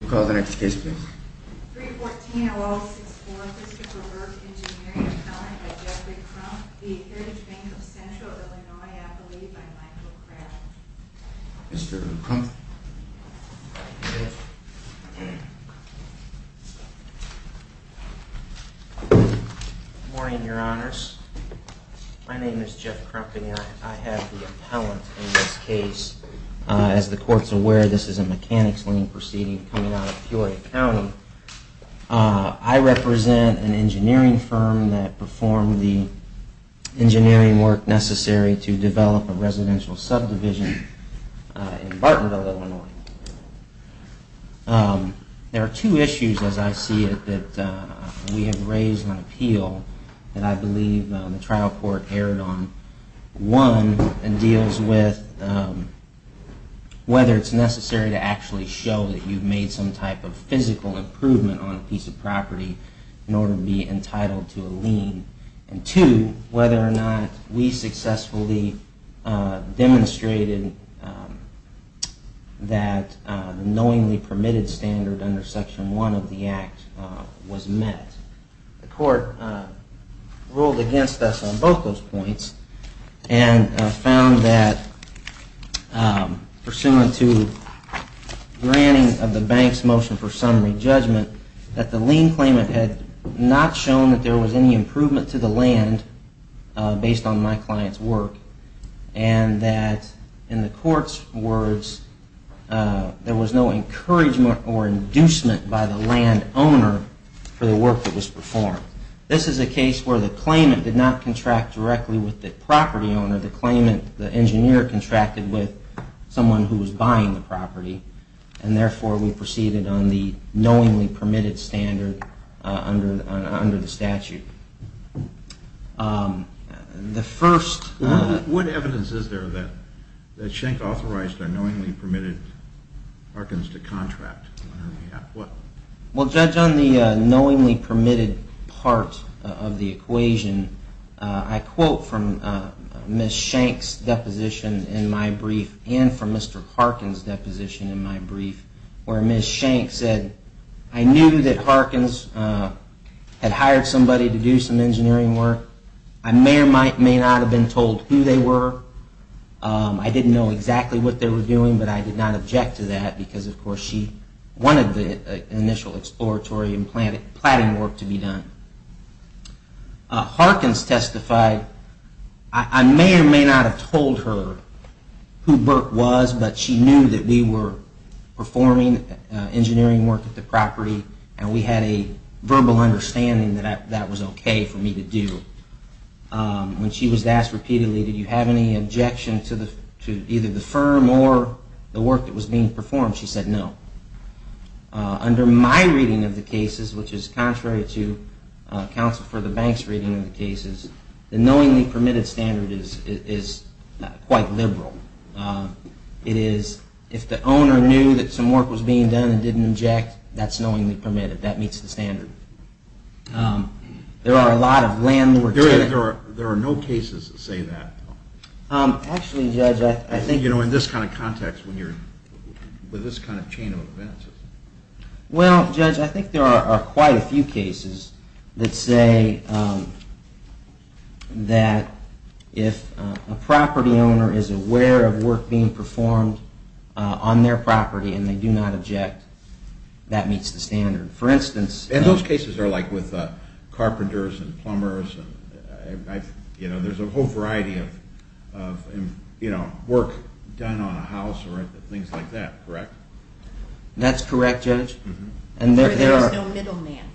We'll call the next case, please. 314-0064, Mr. Burke Engineering, appellant by Jeffrey Crump, the Heritage Bank of Central Illinois appellee by Michael Crabb. Mr. Crump. Good morning, Your Honors. My name is Jeff Crump and I have the appellant in this case. As the Court is aware, this is a mechanics lien proceeding coming out of Peoria County. I represent an engineering firm that performed the engineering work necessary to develop a residential subdivision in Bartonville, Illinois. There are two issues, as I see it, that we have raised on appeal that I believe the trial court erred on. One, it deals with whether it's necessary to actually show that you've made some type of physical improvement on a piece of property in order to be entitled to a lien. And two, whether or not we successfully demonstrated that the knowingly permitted standard under Section 1 of the Act was met. The Court ruled against us on both those points and found that, pursuant to granting of the bank's motion for summary judgment, that the lien claimant had not shown that there was any improvement to the land based on my client's work, and that, in the Court's words, there was no encouragement or inducement by the land owner for the work that was performed. This is a case where the claimant did not contract directly with the property owner. The claimant, the engineer, contracted with someone who was buying the property. And therefore, we proceeded on the knowingly permitted standard under the statute. What evidence is there that Schenck authorized a knowingly permitted Harkins to contract? Well, Judge, on the knowingly permitted part of the equation, I quote from Ms. Schenck's deposition in my brief and from Mr. Harkin's deposition in my brief, where Ms. Schenck said, I knew that Harkins had hired somebody to do some engineering work. I may or may not have been told who they were. I didn't know exactly what they were doing, but I did not object to that because, of course, she wanted the initial exploratory and platting work to be done. Harkins testified, I may or may not have told her who Burke was, but she knew that we were performing engineering work at the property and we had a verbal understanding that that was okay for me to do. When she was asked repeatedly, did you have any objection to either the firm or the work that was being performed, she said no. Under my reading of the cases, which is contrary to counsel for the bank's reading of the cases, the knowingly permitted standard is quite liberal. It is if the owner knew that some work was being done and didn't object, that's knowingly permitted. That meets the standard. There are a lot of landlords. There are no cases that say that. You know, in this kind of context, with this kind of chain of events. Well, Judge, I think there are quite a few cases that say that if a property owner is aware of work being performed on their property and they do not object, that meets the standard. And those cases are like with carpenters and plumbers. There's a whole variety of work done on a house or things like that, correct? That's correct, Judge. There's no middleman.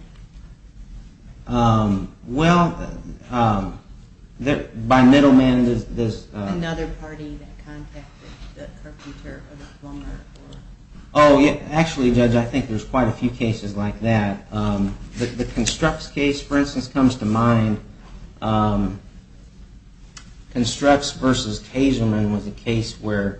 Well, by middleman there's... Oh, actually, Judge, I think there's quite a few cases like that. The Construx case, for instance, comes to mind. Construx v. Kazerman was a case where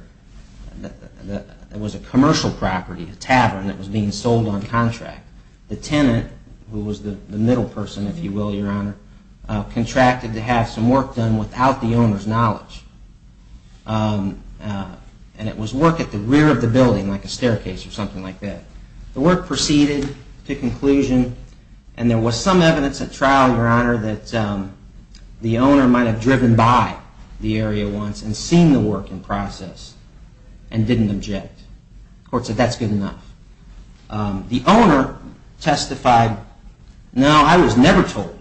it was a commercial property, a tavern, that was being sold on contract. The tenant, who was the middle person, if you will, Your Honor, contracted to have some work done without the owner's knowledge. And it was work at the rear of the building, like a staircase or something like that. The work proceeded to conclusion and there was some evidence at trial, Your Honor, that the owner might have driven by the area once and seen the work in process and didn't object. The court said that's good enough. The owner testified, no, I was never told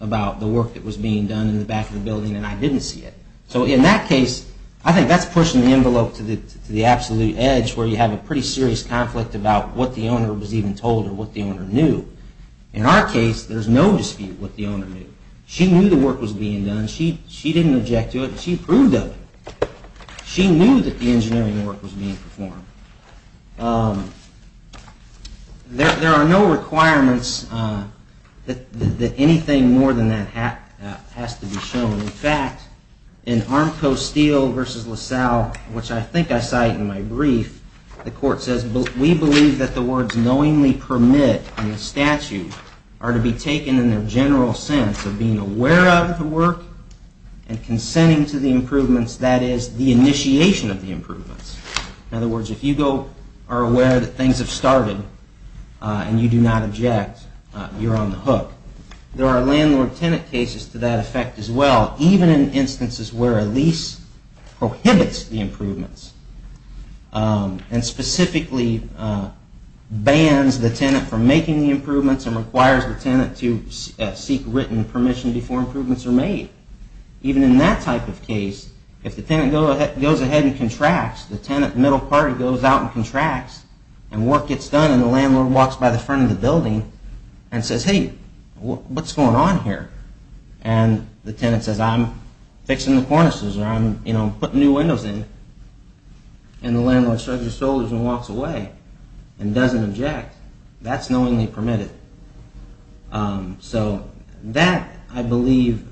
about the work that was being done in the back of the building and I didn't see it. So in that case, I think that's pushing the envelope to the absolute edge where you have a pretty serious conflict about what the owner was even told or what the owner knew. In our case, there's no dispute what the owner knew. She knew the work was being done. She didn't object to it. She approved of it. She knew that the engineering work was being performed. There are no requirements that anything more than that has to be shown. In fact, in Armco Steel v. LaSalle, which I think I cite in my brief, the court says, we believe that the words knowingly permit in the statute are to be taken in their general sense of being aware of the work and consenting to the improvements, that is, the initiation of the improvements. In other words, if you are aware that things have started and you do not object, you're on the hook. There are landlord-tenant cases to that effect as well, even in instances where a lease prohibits the improvements and specifically bans the tenant from making the improvements and requires the tenant to seek written permission before improvements are made. Even in that type of case, if the tenant goes ahead and contracts, the tenant middle party goes out and contracts and work gets done and the landlord walks by the front of the building and says, hey, what's going on here? And the tenant says, I'm fixing the cornices or I'm putting new windows in. And the landlord shrugs his shoulders and walks away and doesn't object. That's knowingly permitted. So that, I believe,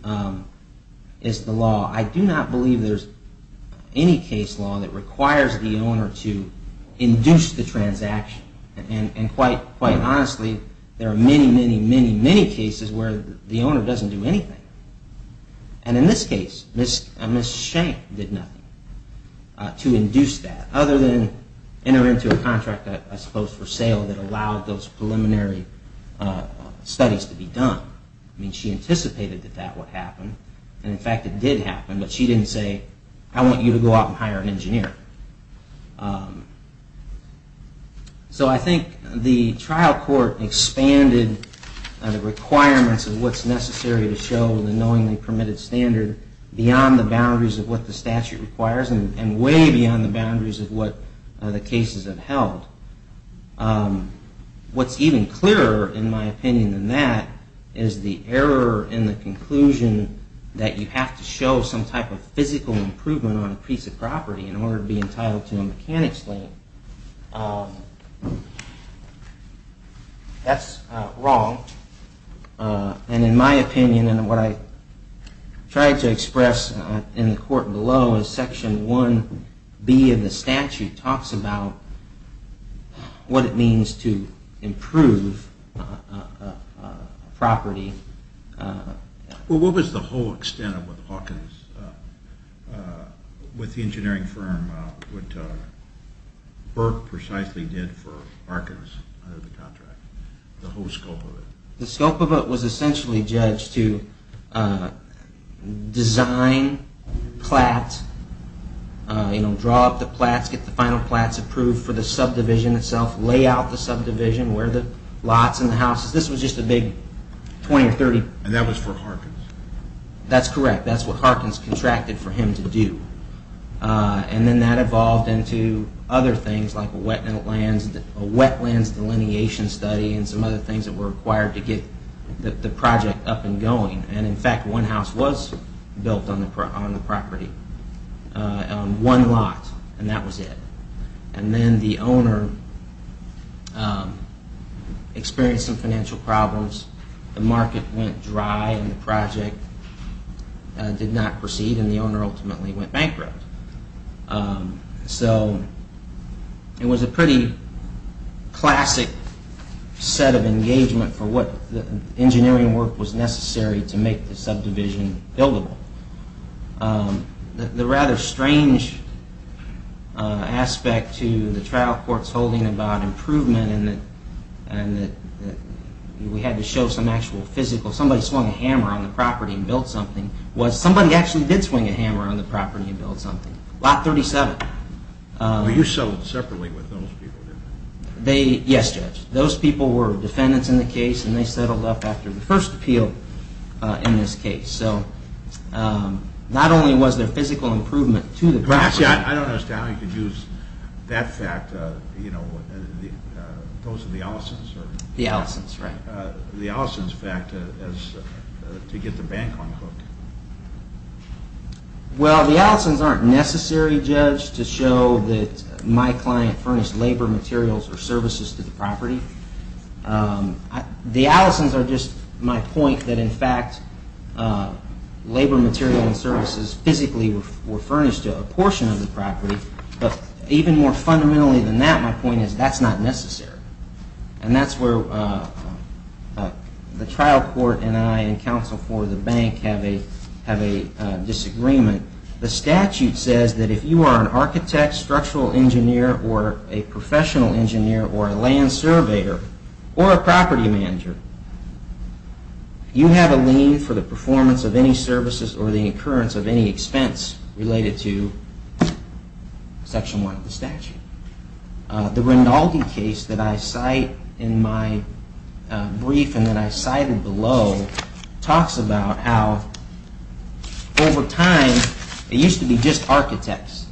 is the law. I do not believe there's any case law that requires the owner to induce the transaction. And quite honestly, there are many, many, many, many cases where the owner doesn't do anything. And in this case, Ms. Shank did nothing to induce that other than enter into a contract, I suppose, for sale that allowed those preliminary studies to be done. I mean, she anticipated that that would happen. And in fact, it did happen, but she didn't say, I want you to go out and hire an engineer. So I think the trial court expanded the requirements of what's necessary to show the knowingly permitted standard beyond the boundaries of what the statute requires and way beyond the boundaries of what the cases have held. What's even clearer, in my opinion, than that is the error in the conclusion that you have to show some type of physical improvement on a piece of property in order to be able to show that. That's wrong. And in my opinion, and what I tried to express in the court below, is Section 1B of the statute talks about what it means to improve a property. Well, what was the whole extent of what Hawkins, with the engineering firm, what Burke precisely did for Hawkins under the contract, the whole scope of it? The scope of it was essentially judged to design plats, draw up the plats, get the final plats approved for the subdivision itself, lay out the subdivision, where the lots and the houses. This was just a big 20 or 30. And that was for Hawkins? That's correct. That's what Hawkins contracted for him to do. And then that evolved into other things like a wetlands delineation study and some other things that were required to get the project up and going. And in fact, one house was built on the property, one lot, and that was it. And then the owner experienced some financial problems. The market went dry and the project did not proceed and the owner ultimately went bankrupt. So it was a pretty classic set of engagement for what the engineering work was necessary to make the subdivision buildable. The rather strange aspect to the trial court's holding about improvement and that we had to show some actual physical, somebody swung a hammer on the property and built something, was somebody actually did swing a hammer on the property and built something. Lot 37. Were you settled separately with those people? Yes, Judge. Those people were defendants in the case and they settled up after the first appeal in this case. So not only was there physical improvement to the property... Actually, I don't understand how you could use that fact, you know, those are the Allison's? The Allison's, right. How did you use the Allison's fact to get the bank on hook? Well, the Allison's aren't necessary, Judge, to show that my client furnished labor materials or services to the property. The Allison's are just my point that in fact labor material and services physically were furnished to a portion of the property, but even more fundamentally than that, my point is that's not necessary. And that's where the trial court and I and counsel for the bank have a disagreement. The statute says that if you are an architect, structural engineer or a professional engineer or a land surveyor or a property manager, you have a lien for the performance of any services or the occurrence of any expense related to Section 1 of the statute. The Rinaldi case that I cite in my brief and that I cited below talks about how over time it used to be just architects.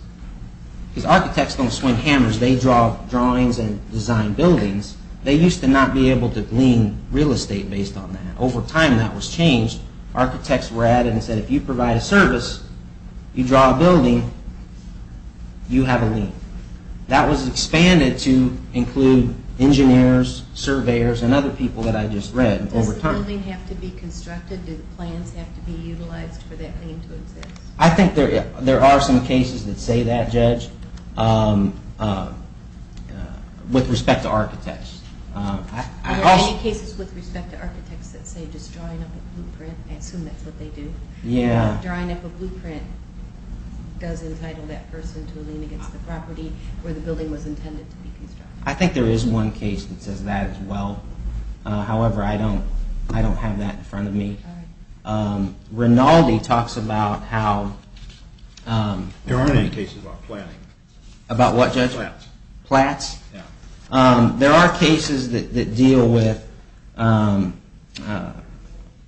Because architects don't swing hammers, they draw drawings and design buildings. They used to not be able to glean real estate based on that. Over time that was changed. Architects were added and said if you provide a service, you draw a building, you have a lien. That was expanded to include engineers, surveyors and other people that I just read over time. Does the building have to be constructed? Do plans have to be utilized for that lien to exist? I think there are some cases that say that, Judge, with respect to architects. Are there any cases with respect to architects that say just drawing up a blueprint, I assume that's what they do. Drawing up a blueprint does entitle that person to a lien against the property where the building was intended to be constructed. I think there is one case that says that as well. However, I don't have that in front of me. Rinaldi talks about how... There are cases that deal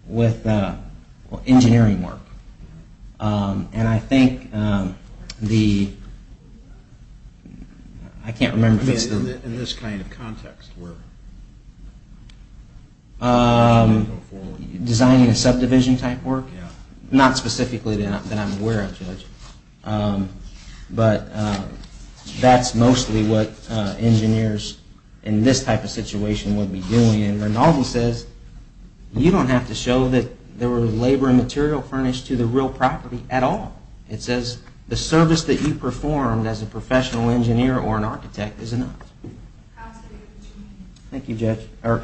with engineering work. Designing a subdivision type work. Not specifically that I'm aware of, Judge. But that's mostly what engineers in this type of situation would be doing. And Rinaldi says you don't have to show that there was labor and material furnished to the real property at all. It says the service that you performed as a professional engineer or an architect is enough. Thank you, Judge. I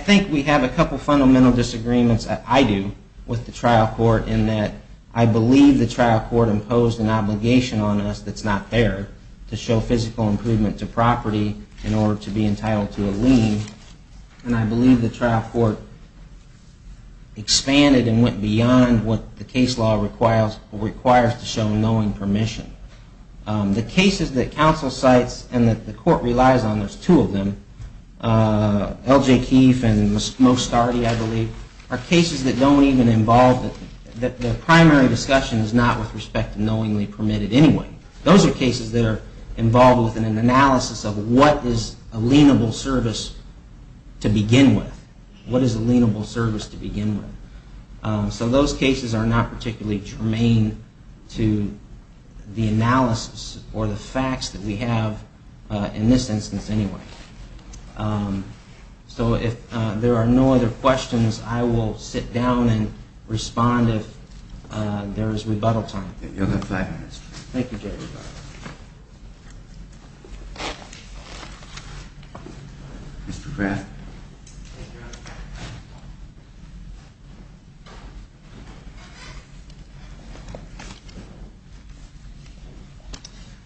think we have a couple fundamental disagreements, I do, with the trial court in that I believe the trial court imposed an obligation on us that's not fair to show physical improvement to property in order to be entitled to a lien. And I believe the trial court expanded and went beyond what the case law requires to show knowing permission. The cases that counsel cites and that the court relies on, there's two of them, L.J. Keefe and Moe Stardy, I believe, are cases that don't even involve... The primary discussion is not with respect to knowingly permitted anyway. Those are cases that are involved within an analysis of what is a lienable service to begin with. So those cases are not particularly germane to the analysis or the facts that we have in this instance anyway. So if there are no other questions, I will sit down and respond if there is rebuttal time. Thank you, Judge.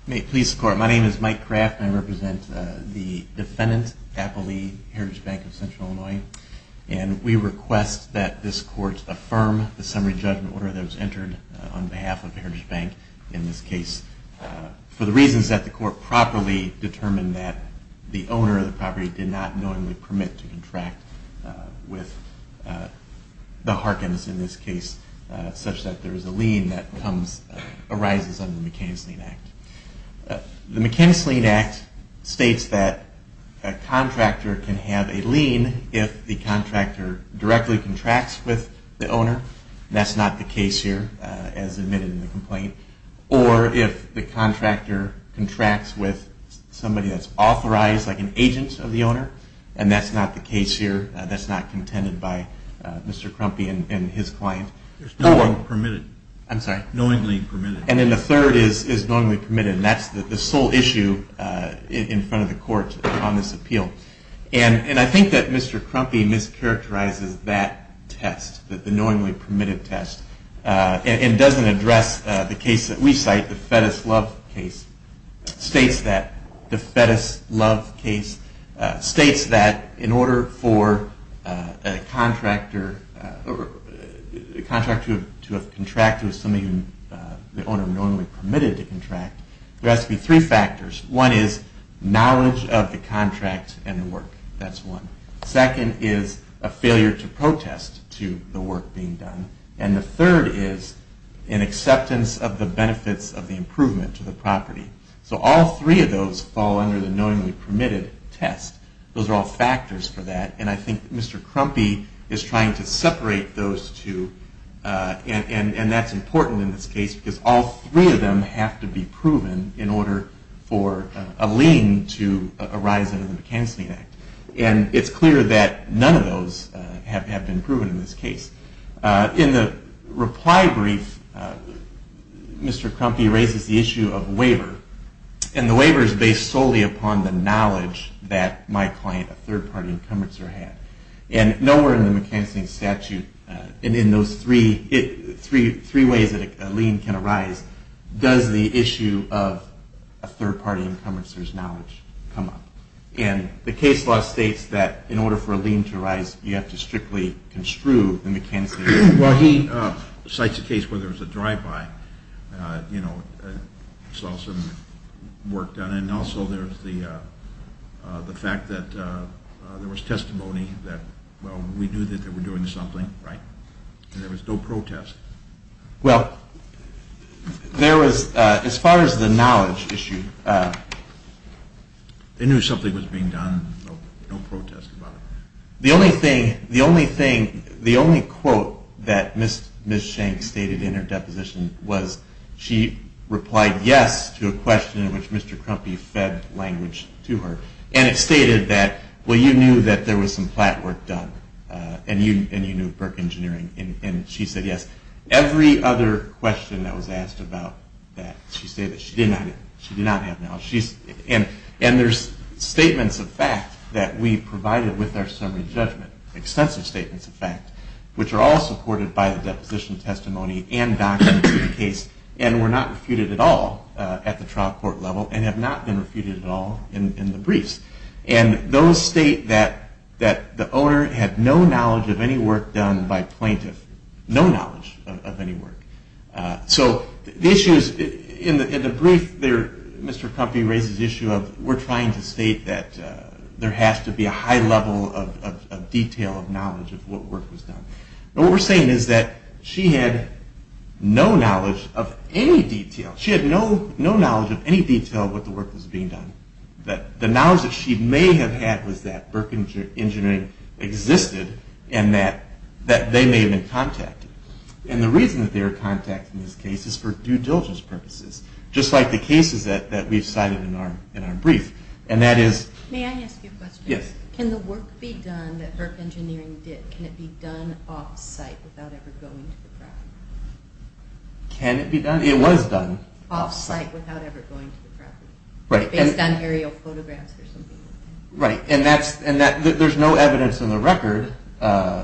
May it please the Court. My name is Mike Kraft and I represent the defendant, Apple Lee, Heritage Bank of Central Illinois. And we request that this Court affirm the summary judgment order that was entered on behalf of the Heritage Bank in this case. For the reasons that the Court properly determined that the owner of the property did not knowingly permit to contract with the property. We request that this Court affirm the summary judgment order that was entered on behalf of the Heritage Bank in this case. The Mechanics Lien Act states that a contractor can have a lien if the contractor directly contracts with the owner. That's not the case here, as admitted in the complaint. Or if the contractor contracts with somebody that's authorized, like an agent of the owner. And that's not the case here. That's not contended by Mr. Crumpy and his client. And then the third is knowingly permitted. And that's the sole issue in front of the Court on this appeal. And I think that Mr. Crumpy mischaracterizes that test, the knowingly permitted test. And doesn't address the case that we cite, the Fettus Love case. States that the Fettus Love case states that in order for a contractor to have contracted with somebody the owner knowingly permitted to contract, there has to be three factors. One is knowledge of the contract and the work. That's one. Second is a failure to protest to the work being done. And the third is an acceptance of the benefits of the improvement to the property. So all three of those fall under the knowingly permitted test. Those are all factors for that. And I think Mr. Crumpy is trying to separate those two. And that's important in this case because all three of them have to be proven in order for a lien to arise under the McKinsey Act. And it's clear that none of those have been proven in this case. In the reply brief, Mr. Crumpy raises the issue of waiver. And the waiver is based solely upon the knowledge that my client, a third-party incumbencer, had. And nowhere in the McKinsey statute, in those three ways that a lien can arise, does the issue of a third-party incumbencer's knowledge come up. And the case law states that in order for a lien to arise, you have to strictly construe the McKinsey Act. Well, he cites a case where there was a drive-by. You know, I saw some work done. And also there's the fact that there was testimony that, well, we knew that they were doing something, right? And there was no protest. Well, there was, as far as the knowledge issue... They knew something was being done, so no protest about it. The only thing... The only quote that Ms. Shank stated in her deposition was she replied yes to a question in which Mr. Crumpy fed language to her. And it stated that, well, you knew that there was some plat work done. And you knew PERC engineering. And she said yes. Every other question that was asked about that, she said that she did not have knowledge. And there's statements of fact that we provided with our summary judgment, extensive statements of fact, which are all supported by the deposition testimony and documents of the case, and were not refuted at all at the trial court level, and have not been refuted at all in the briefs. And those state that the owner had no knowledge of any work done by plaintiff. No knowledge of any work. So the issue is, in the brief there, Mr. Crumpy raises the issue of we're trying to state that there has to be a high level of detail, of knowledge of what work was done. But what we're saying is that she had no knowledge of any detail. She had no knowledge of any detail of what the work was being done. The knowledge that she may have had was that PERC engineering existed, and that they may have been contacted. And the reason that they were contacted in this case is for due diligence purposes, just like the cases that we've cited in our brief. And that is... Can it be done off-site without ever going to the property? Can it be done? It was done. Off-site without ever going to the property. Based on aerial photographs or something like that. Right. And there's no evidence in the record.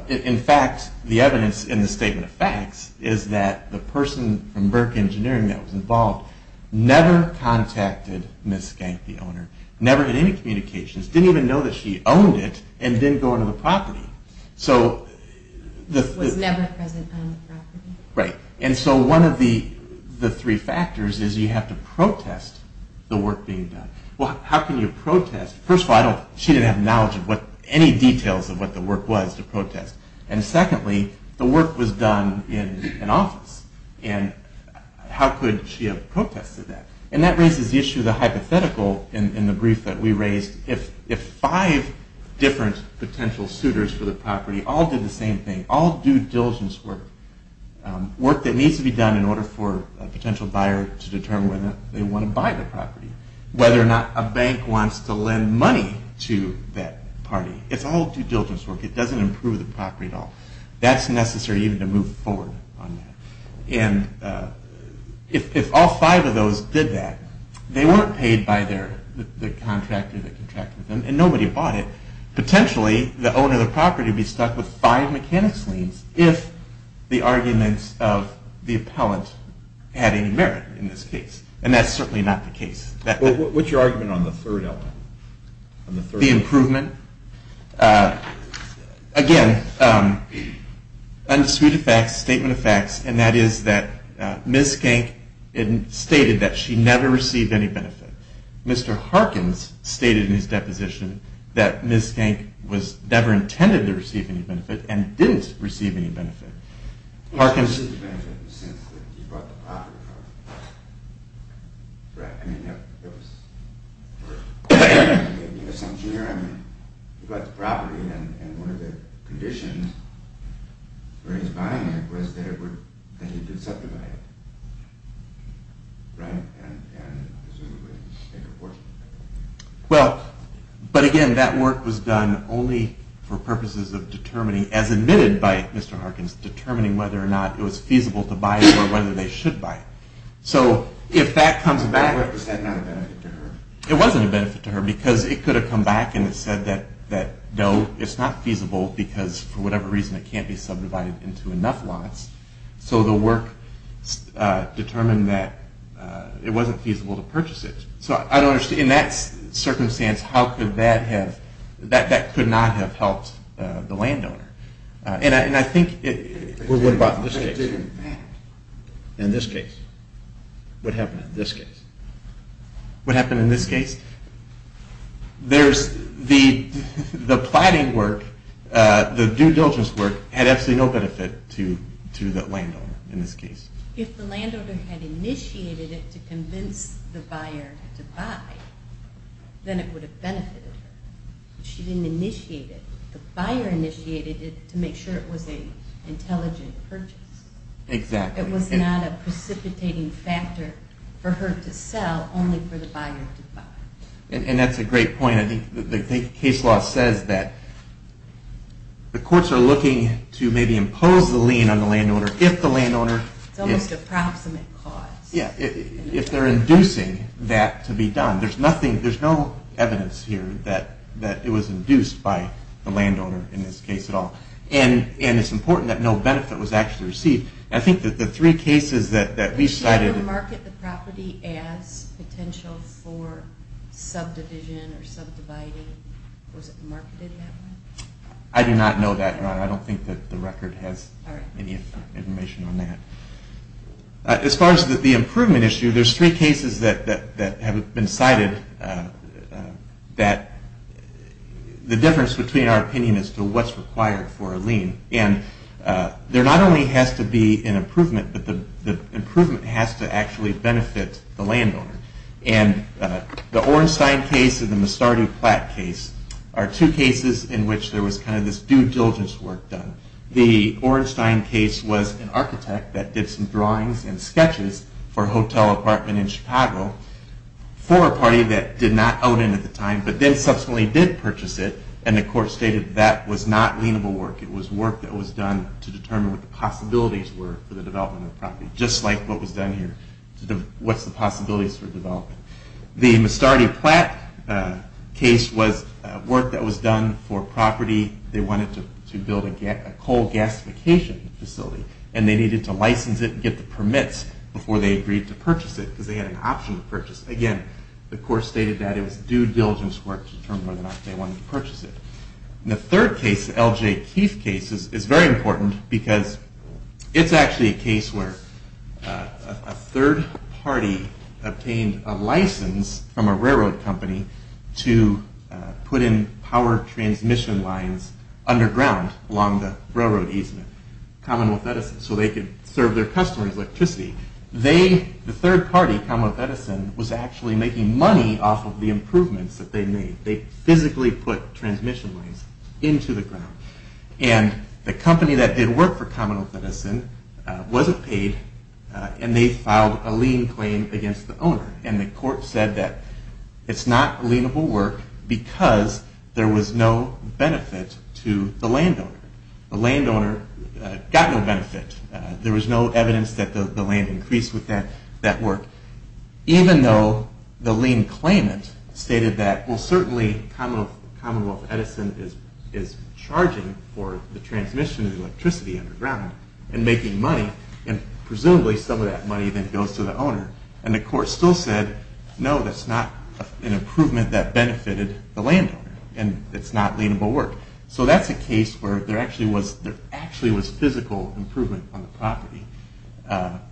In fact, the evidence in the statement of facts is that the person from PERC engineering that was involved never contacted Ms. Skank, the owner. Was never present on the property. Right. And so one of the three factors is you have to protest the work being done. Well, how can you protest? First of all, she didn't have knowledge of any details of what the work was to protest. And secondly, the work was done in an office. And how could she have protested that? And that raises the issue of the hypothetical in the brief that we raised. If five different potential suitors for the property all did the same thing, all due diligence work. Work that needs to be done in order for a potential buyer to determine whether they want to buy the property. Whether or not a bank wants to lend money to that party. It's all due diligence work. It doesn't improve the property at all. That's necessary even to move forward on that. And if all five of those did that, they weren't paid by the contractor that contracted them. And nobody bought it. Potentially, the owner of the property would be stuck with five mechanics liens if the arguments of the appellant had any merit in this case. And that's certainly not the case. What's your argument on the third element? The improvement? Again, undisputed facts, statement of facts. And that is that Ms. Skank stated that she never received any benefit. Mr. Harkins stated in his deposition that Ms. Skank was never intended to receive any benefit and didn't receive any benefit. But again, that work was done only for purposes of determining, as admitted by Mr. Harkins, determining whether or not Ms. Skank was going to buy the property. It wasn't a benefit to her because it could have come back and said that no, it's not feasible because for whatever reason it can't be subdivided into enough lots. So the work determined that it wasn't feasible to purchase it. So in that circumstance, that could not have helped the landowner. What about in this case? What happened in this case? The plotting work, the due diligence work, had absolutely no benefit to the landowner in this case. If the landowner had initiated it to convince the buyer to buy, then it would have benefited her. But she didn't initiate it. The buyer initiated it to make sure it was an intelligent purchase. It was not a precipitating factor for her to sell, only for the buyer to buy. And that's a great point. I think the case law says that the courts are looking to maybe impose the lien on the landowner if the landowner... that it was induced by the landowner in this case at all. And it's important that no benefit was actually received. Did she ever market the property as potential for subdivision or subdividing? Was it marketed that way? I do not know that, Your Honor. I don't think that the record has any information on that. As far as the improvement issue, there's three cases that have been cited that... the difference between our opinion as to what's required for a lien. And there not only has to be an improvement, but the improvement has to actually benefit the landowner. And the Orenstein case and the Mustardew Platt case are two cases in which there was kind of this due diligence work done. The Orenstein case was an architect that did some drawings and sketches for a hotel apartment in Chicago... for a party that did not out in at the time, but then subsequently did purchase it. And the court stated that was not lienable work. It was work that was done to determine what the possibilities were for the development of the property, just like what was done here. What's the possibilities for development? The Mustardew Platt case was work that was done for property. They wanted to build a coal gasification facility. And they needed to license it and get the permits before they agreed to purchase it because they had an option to purchase it. Again, the court stated that it was due diligence work to determine whether or not they wanted to purchase it. And the third case, the L.J. Keith case, is very important because it's actually a case where... a third party obtained a license from a railroad company to put in power transmission lines underground along the railroad easement. Commonwealth Edison, so they could serve their customers electricity. The third party, Commonwealth Edison, was actually making money off of the improvements that they made. They physically put transmission lines into the ground. And the company that did work for Commonwealth Edison wasn't paid, and they filed a lien claim against the owner. And the court said that it's not lienable work because there was no benefit to the landowner. The landowner got no benefit. There was no evidence that the land increased with that work, even though the lien claimant stated that, well, certainly Commonwealth Edison is charging for the transmission of electricity underground and making money, and presumably some of that money then goes to the owner. And the court still said, no, that's not an improvement that benefited the landowner, and it's not lienable work. So that's a case where there actually was physical improvement on the property,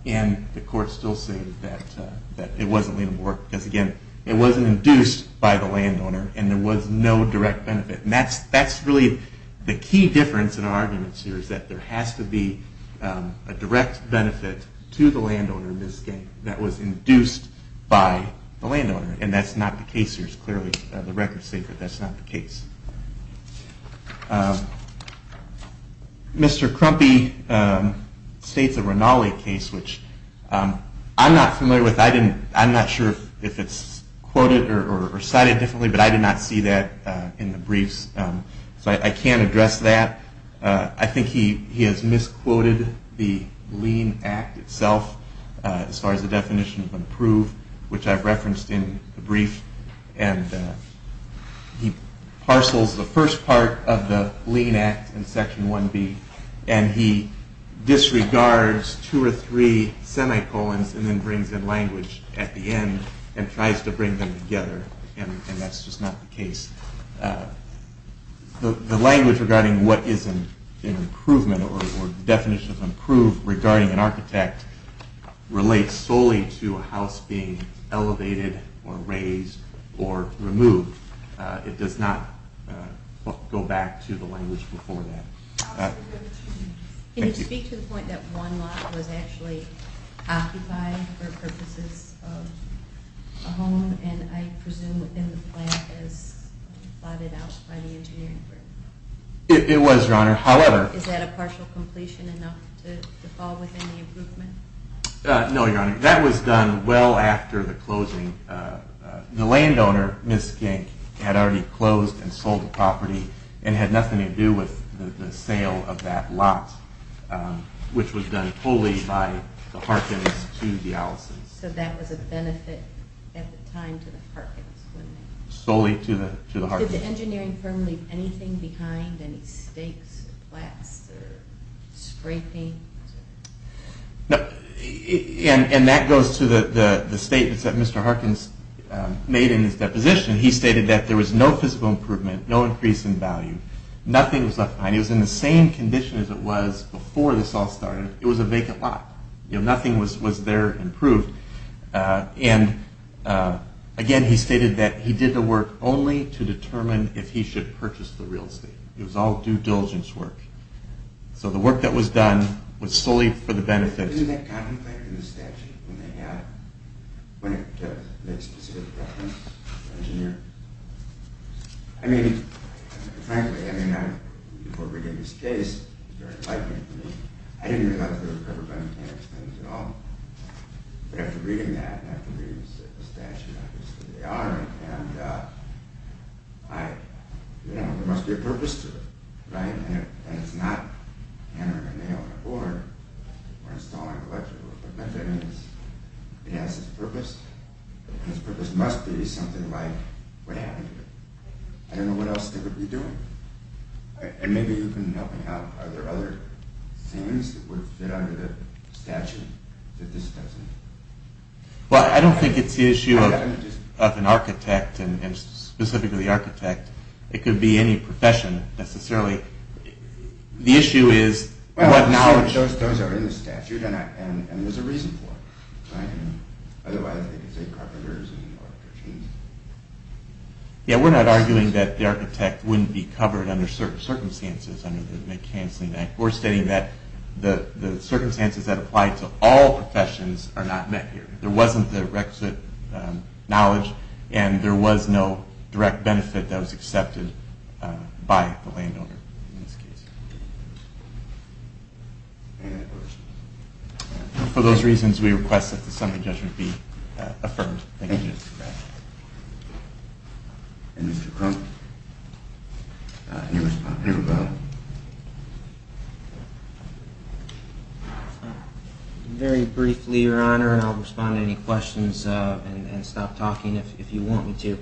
and the court still said that it wasn't lienable work because, again, it wasn't induced by the landowner, and there was no direct benefit. And that's really the key difference in our arguments here is that there has to be a direct benefit to the landowner in this case that was induced by the landowner, and that's not the case here. It's clearly the record's safe that that's not the case. Mr. Crumpy states a Rinaldi case, which I'm not familiar with. I'm not sure if it's quoted or cited differently, but I did not see that in the briefs, so I can't address that. I think he has misquoted the lien act itself as far as the definition of improve, which I've referenced in the brief, and he parcels the first part of the lien act in Section 1B, and he disregards two or three semi-colons and then brings in language at the end and tries to bring them together, and that's just not the case. The language regarding what is an improvement or definition of improve regarding an architect relates solely to a house being elevated or raised or removed. It does not go back to the language before that. Can you speak to the point that one lot was actually occupied for purposes of a home, and I presume within the plan as plotted out by the engineering group? It was, Your Honor. Is that a partial completion enough to fall within the improvement? No, Your Honor. That was done well after the closing. The landowner, Ms. Gink, had already closed and sold the property and had nothing to do with the sale of that lot, which was done wholly by the Harkins to the Allisons. So that was a benefit at the time to the Harkins, wasn't it? Solely to the Harkins. Did the engineering firm leave anything behind? And that goes to the statements that Mr. Harkins made in his deposition. He stated that there was no physical improvement, no increase in value. Nothing was left behind. It was in the same condition as it was before this all started. It was a vacant lot. Nothing was there improved. And again, he stated that he did the work only to determine if he should purchase the real estate. It was all due diligence work. So the work that was done was solely for the benefit. Wasn't that contemplated in the statute when it made specific reference to the engineer? I mean, frankly, before bringing this case, it was very frightening to me. I didn't realize it was covered by mechanic's claims at all. But after reading that, and after reading the statute, obviously they are, and there must be a purpose to it, right? And it's not hammering a nail on a board or installing electrical equipment. I mean, it has its purpose, and its purpose must be something like what happened here. I don't know what else they would be doing. And maybe you can help me out. Are there other things that would fit under the statute that this doesn't? Well, I don't think it's the issue of an architect, and specifically the architect. It could be any profession, necessarily. The issue is what knowledge... We're arguing that the architect wouldn't be covered under certain circumstances under the McHensley Act. We're stating that the circumstances that apply to all professions are not met here. There wasn't the requisite knowledge, and there was no direct benefit that was accepted by the landowner in this case. For those reasons, we request that the summary judgment be affirmed. Thank you. Any response? Anybody? Very briefly, Your Honor, and I'll respond to any questions and stop talking if you want me to.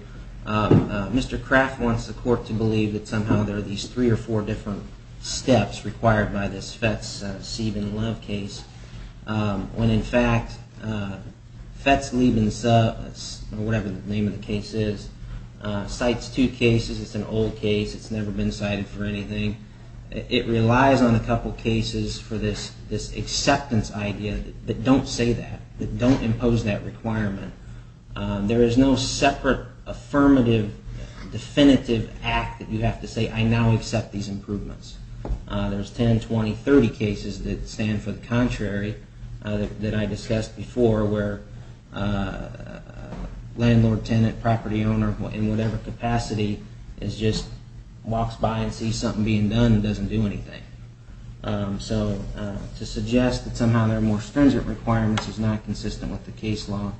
Mr. Kraft wants the court to believe that somehow there are these three or four different steps required by this Fetz-Sebin-Love case, when in fact Fetz-Sebin-Love, or whatever the name of the case is, cites two cases. It's an old case. It's never been cited for anything. It relies on a couple cases for this acceptance idea that don't say that, that don't impose that requirement. There is no separate, affirmative, definitive act that you have to say, I now accept these improvements. There's 10, 20, 30 cases that stand for the contrary that I discussed before, where a landlord, tenant, property owner, in whatever capacity, just walks by and sees something being done and doesn't do anything. So to suggest that somehow there are more stringent requirements is not consistent with the case law.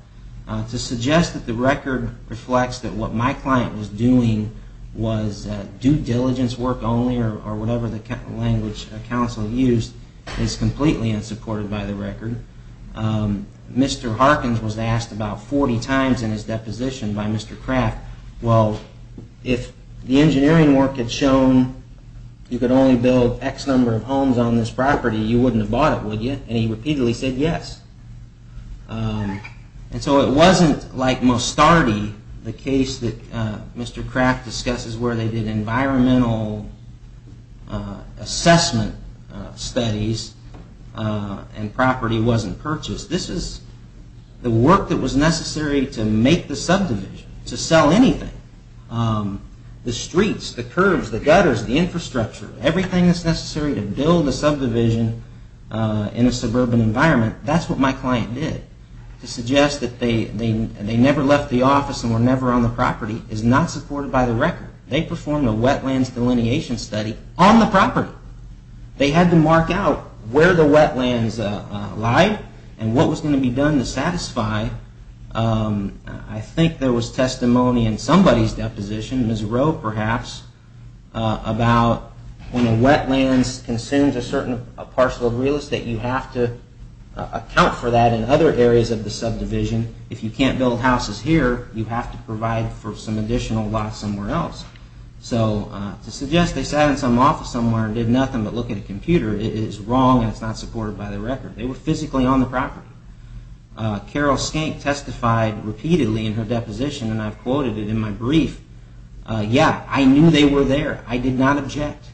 To suggest that the record reflects that what my client was doing was due diligence work only, or whatever the language counsel used, is completely unsupported by the record. Mr. Harkins was asked about 40 times in his deposition by Mr. Kraft, well, if the engineering work had shown you could only build X number of homes on this property, you wouldn't have bought it, would you? And he repeatedly said yes. And so it wasn't like Mostardi, the case that Mr. Kraft discusses where they did environmental assessment studies, and property wasn't purchased. This is the work that was necessary to make the subdivision, to sell anything. The streets, the curbs, the gutters, the infrastructure, everything that's necessary to build a subdivision in a suburban environment, that's what my client did. To suggest that they never left the office and were never on the property is not supported by the record. They performed a wetlands delineation study on the property. They had to mark out where the wetlands lied and what was going to be done to satisfy. I think there was testimony in somebody's deposition, Ms. Rowe perhaps, about when a wetlands consumes a certain parcel of real estate, you have to account for that in other areas of the subdivision. If you can't build houses here, you have to provide for some additional lots somewhere else. So to suggest they sat in some office somewhere and did nothing but look at a computer is wrong, and it's not supported by the record. They were physically on the property. Carol Skank testified repeatedly in her deposition, and I've quoted it in my brief. Yeah, I knew they were there. I did not object.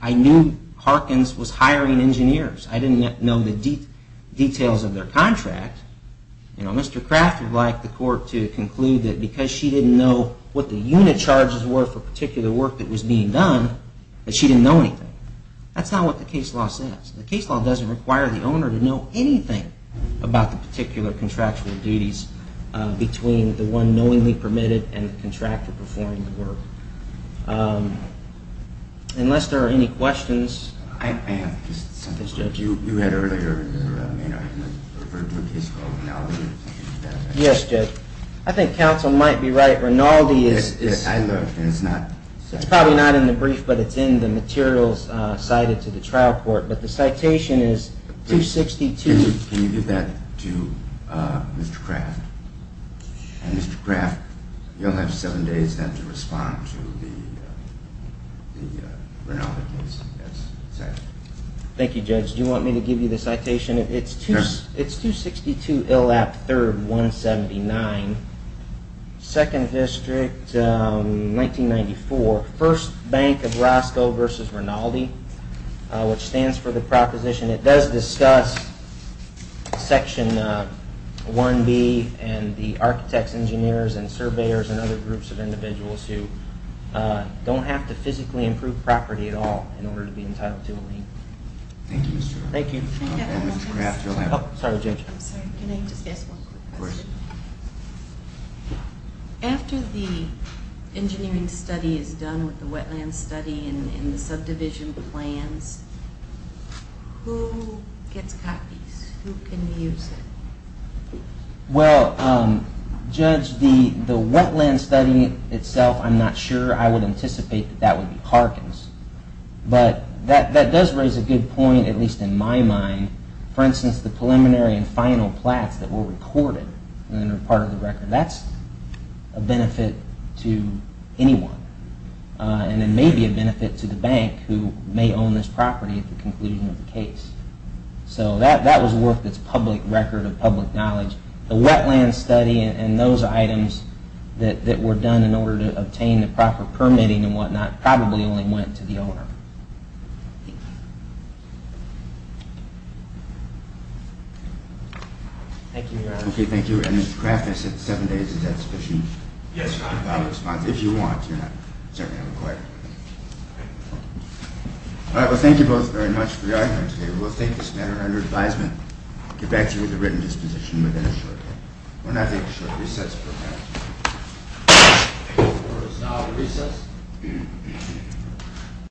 I knew Harkins was hiring engineers. I didn't know the details of their contract. Mr. Kraft would like the court to conclude that because she didn't know what the unit charges were for particular work that was being done, that she didn't know anything. That's not what the case law says. The case law doesn't require the owner to know anything about the particular contractual duties between the one knowingly permitted and the contractor performing the work. Unless there are any questions. You had earlier referred to a case called Rinaldi. Yes, Judge. I think counsel might be right. Rinaldi is probably not in the brief, but it's in the materials cited to the trial court, but the citation is 262. Can you give that to Mr. Kraft? And Mr. Kraft, you'll have seven days then to respond to the Rinaldi case. Thank you, Judge. Do you want me to give you the citation? It's 262 Illap 3rd, 179, 2nd District, 1994, 1st Bank of Roscoe v. Rinaldi, which stands for the proposition. It does discuss Section 1B and the architects, engineers and surveyors and other groups of individuals who don't have to physically improve property at all in order to be entitled to a lien. Thank you, Mr. Kraft. After the engineering study is done with the wetland study and the subdivision plans, who gets copies? Who can use it? Well, Judge, the wetland study itself, I'm not sure. I would anticipate that that would be Harkins. But that does raise a good point, at least in my mind. For instance, the preliminary and final plats that were recorded and are part of the record, that's a benefit to anyone. And it may be a benefit to the bank who may own this property at the conclusion of the case. So that was worth its public record of public knowledge. The wetland study and those items that were done in order to obtain the proper permitting and whatnot probably only went to the owner. Thank you. Thank you, Your Honor. Yes, Your Honor. All right. Well, thank you both very much for your argument today. We will take this matter under advisement and get back to you with a written disposition within a short time. We're now taking a short recess.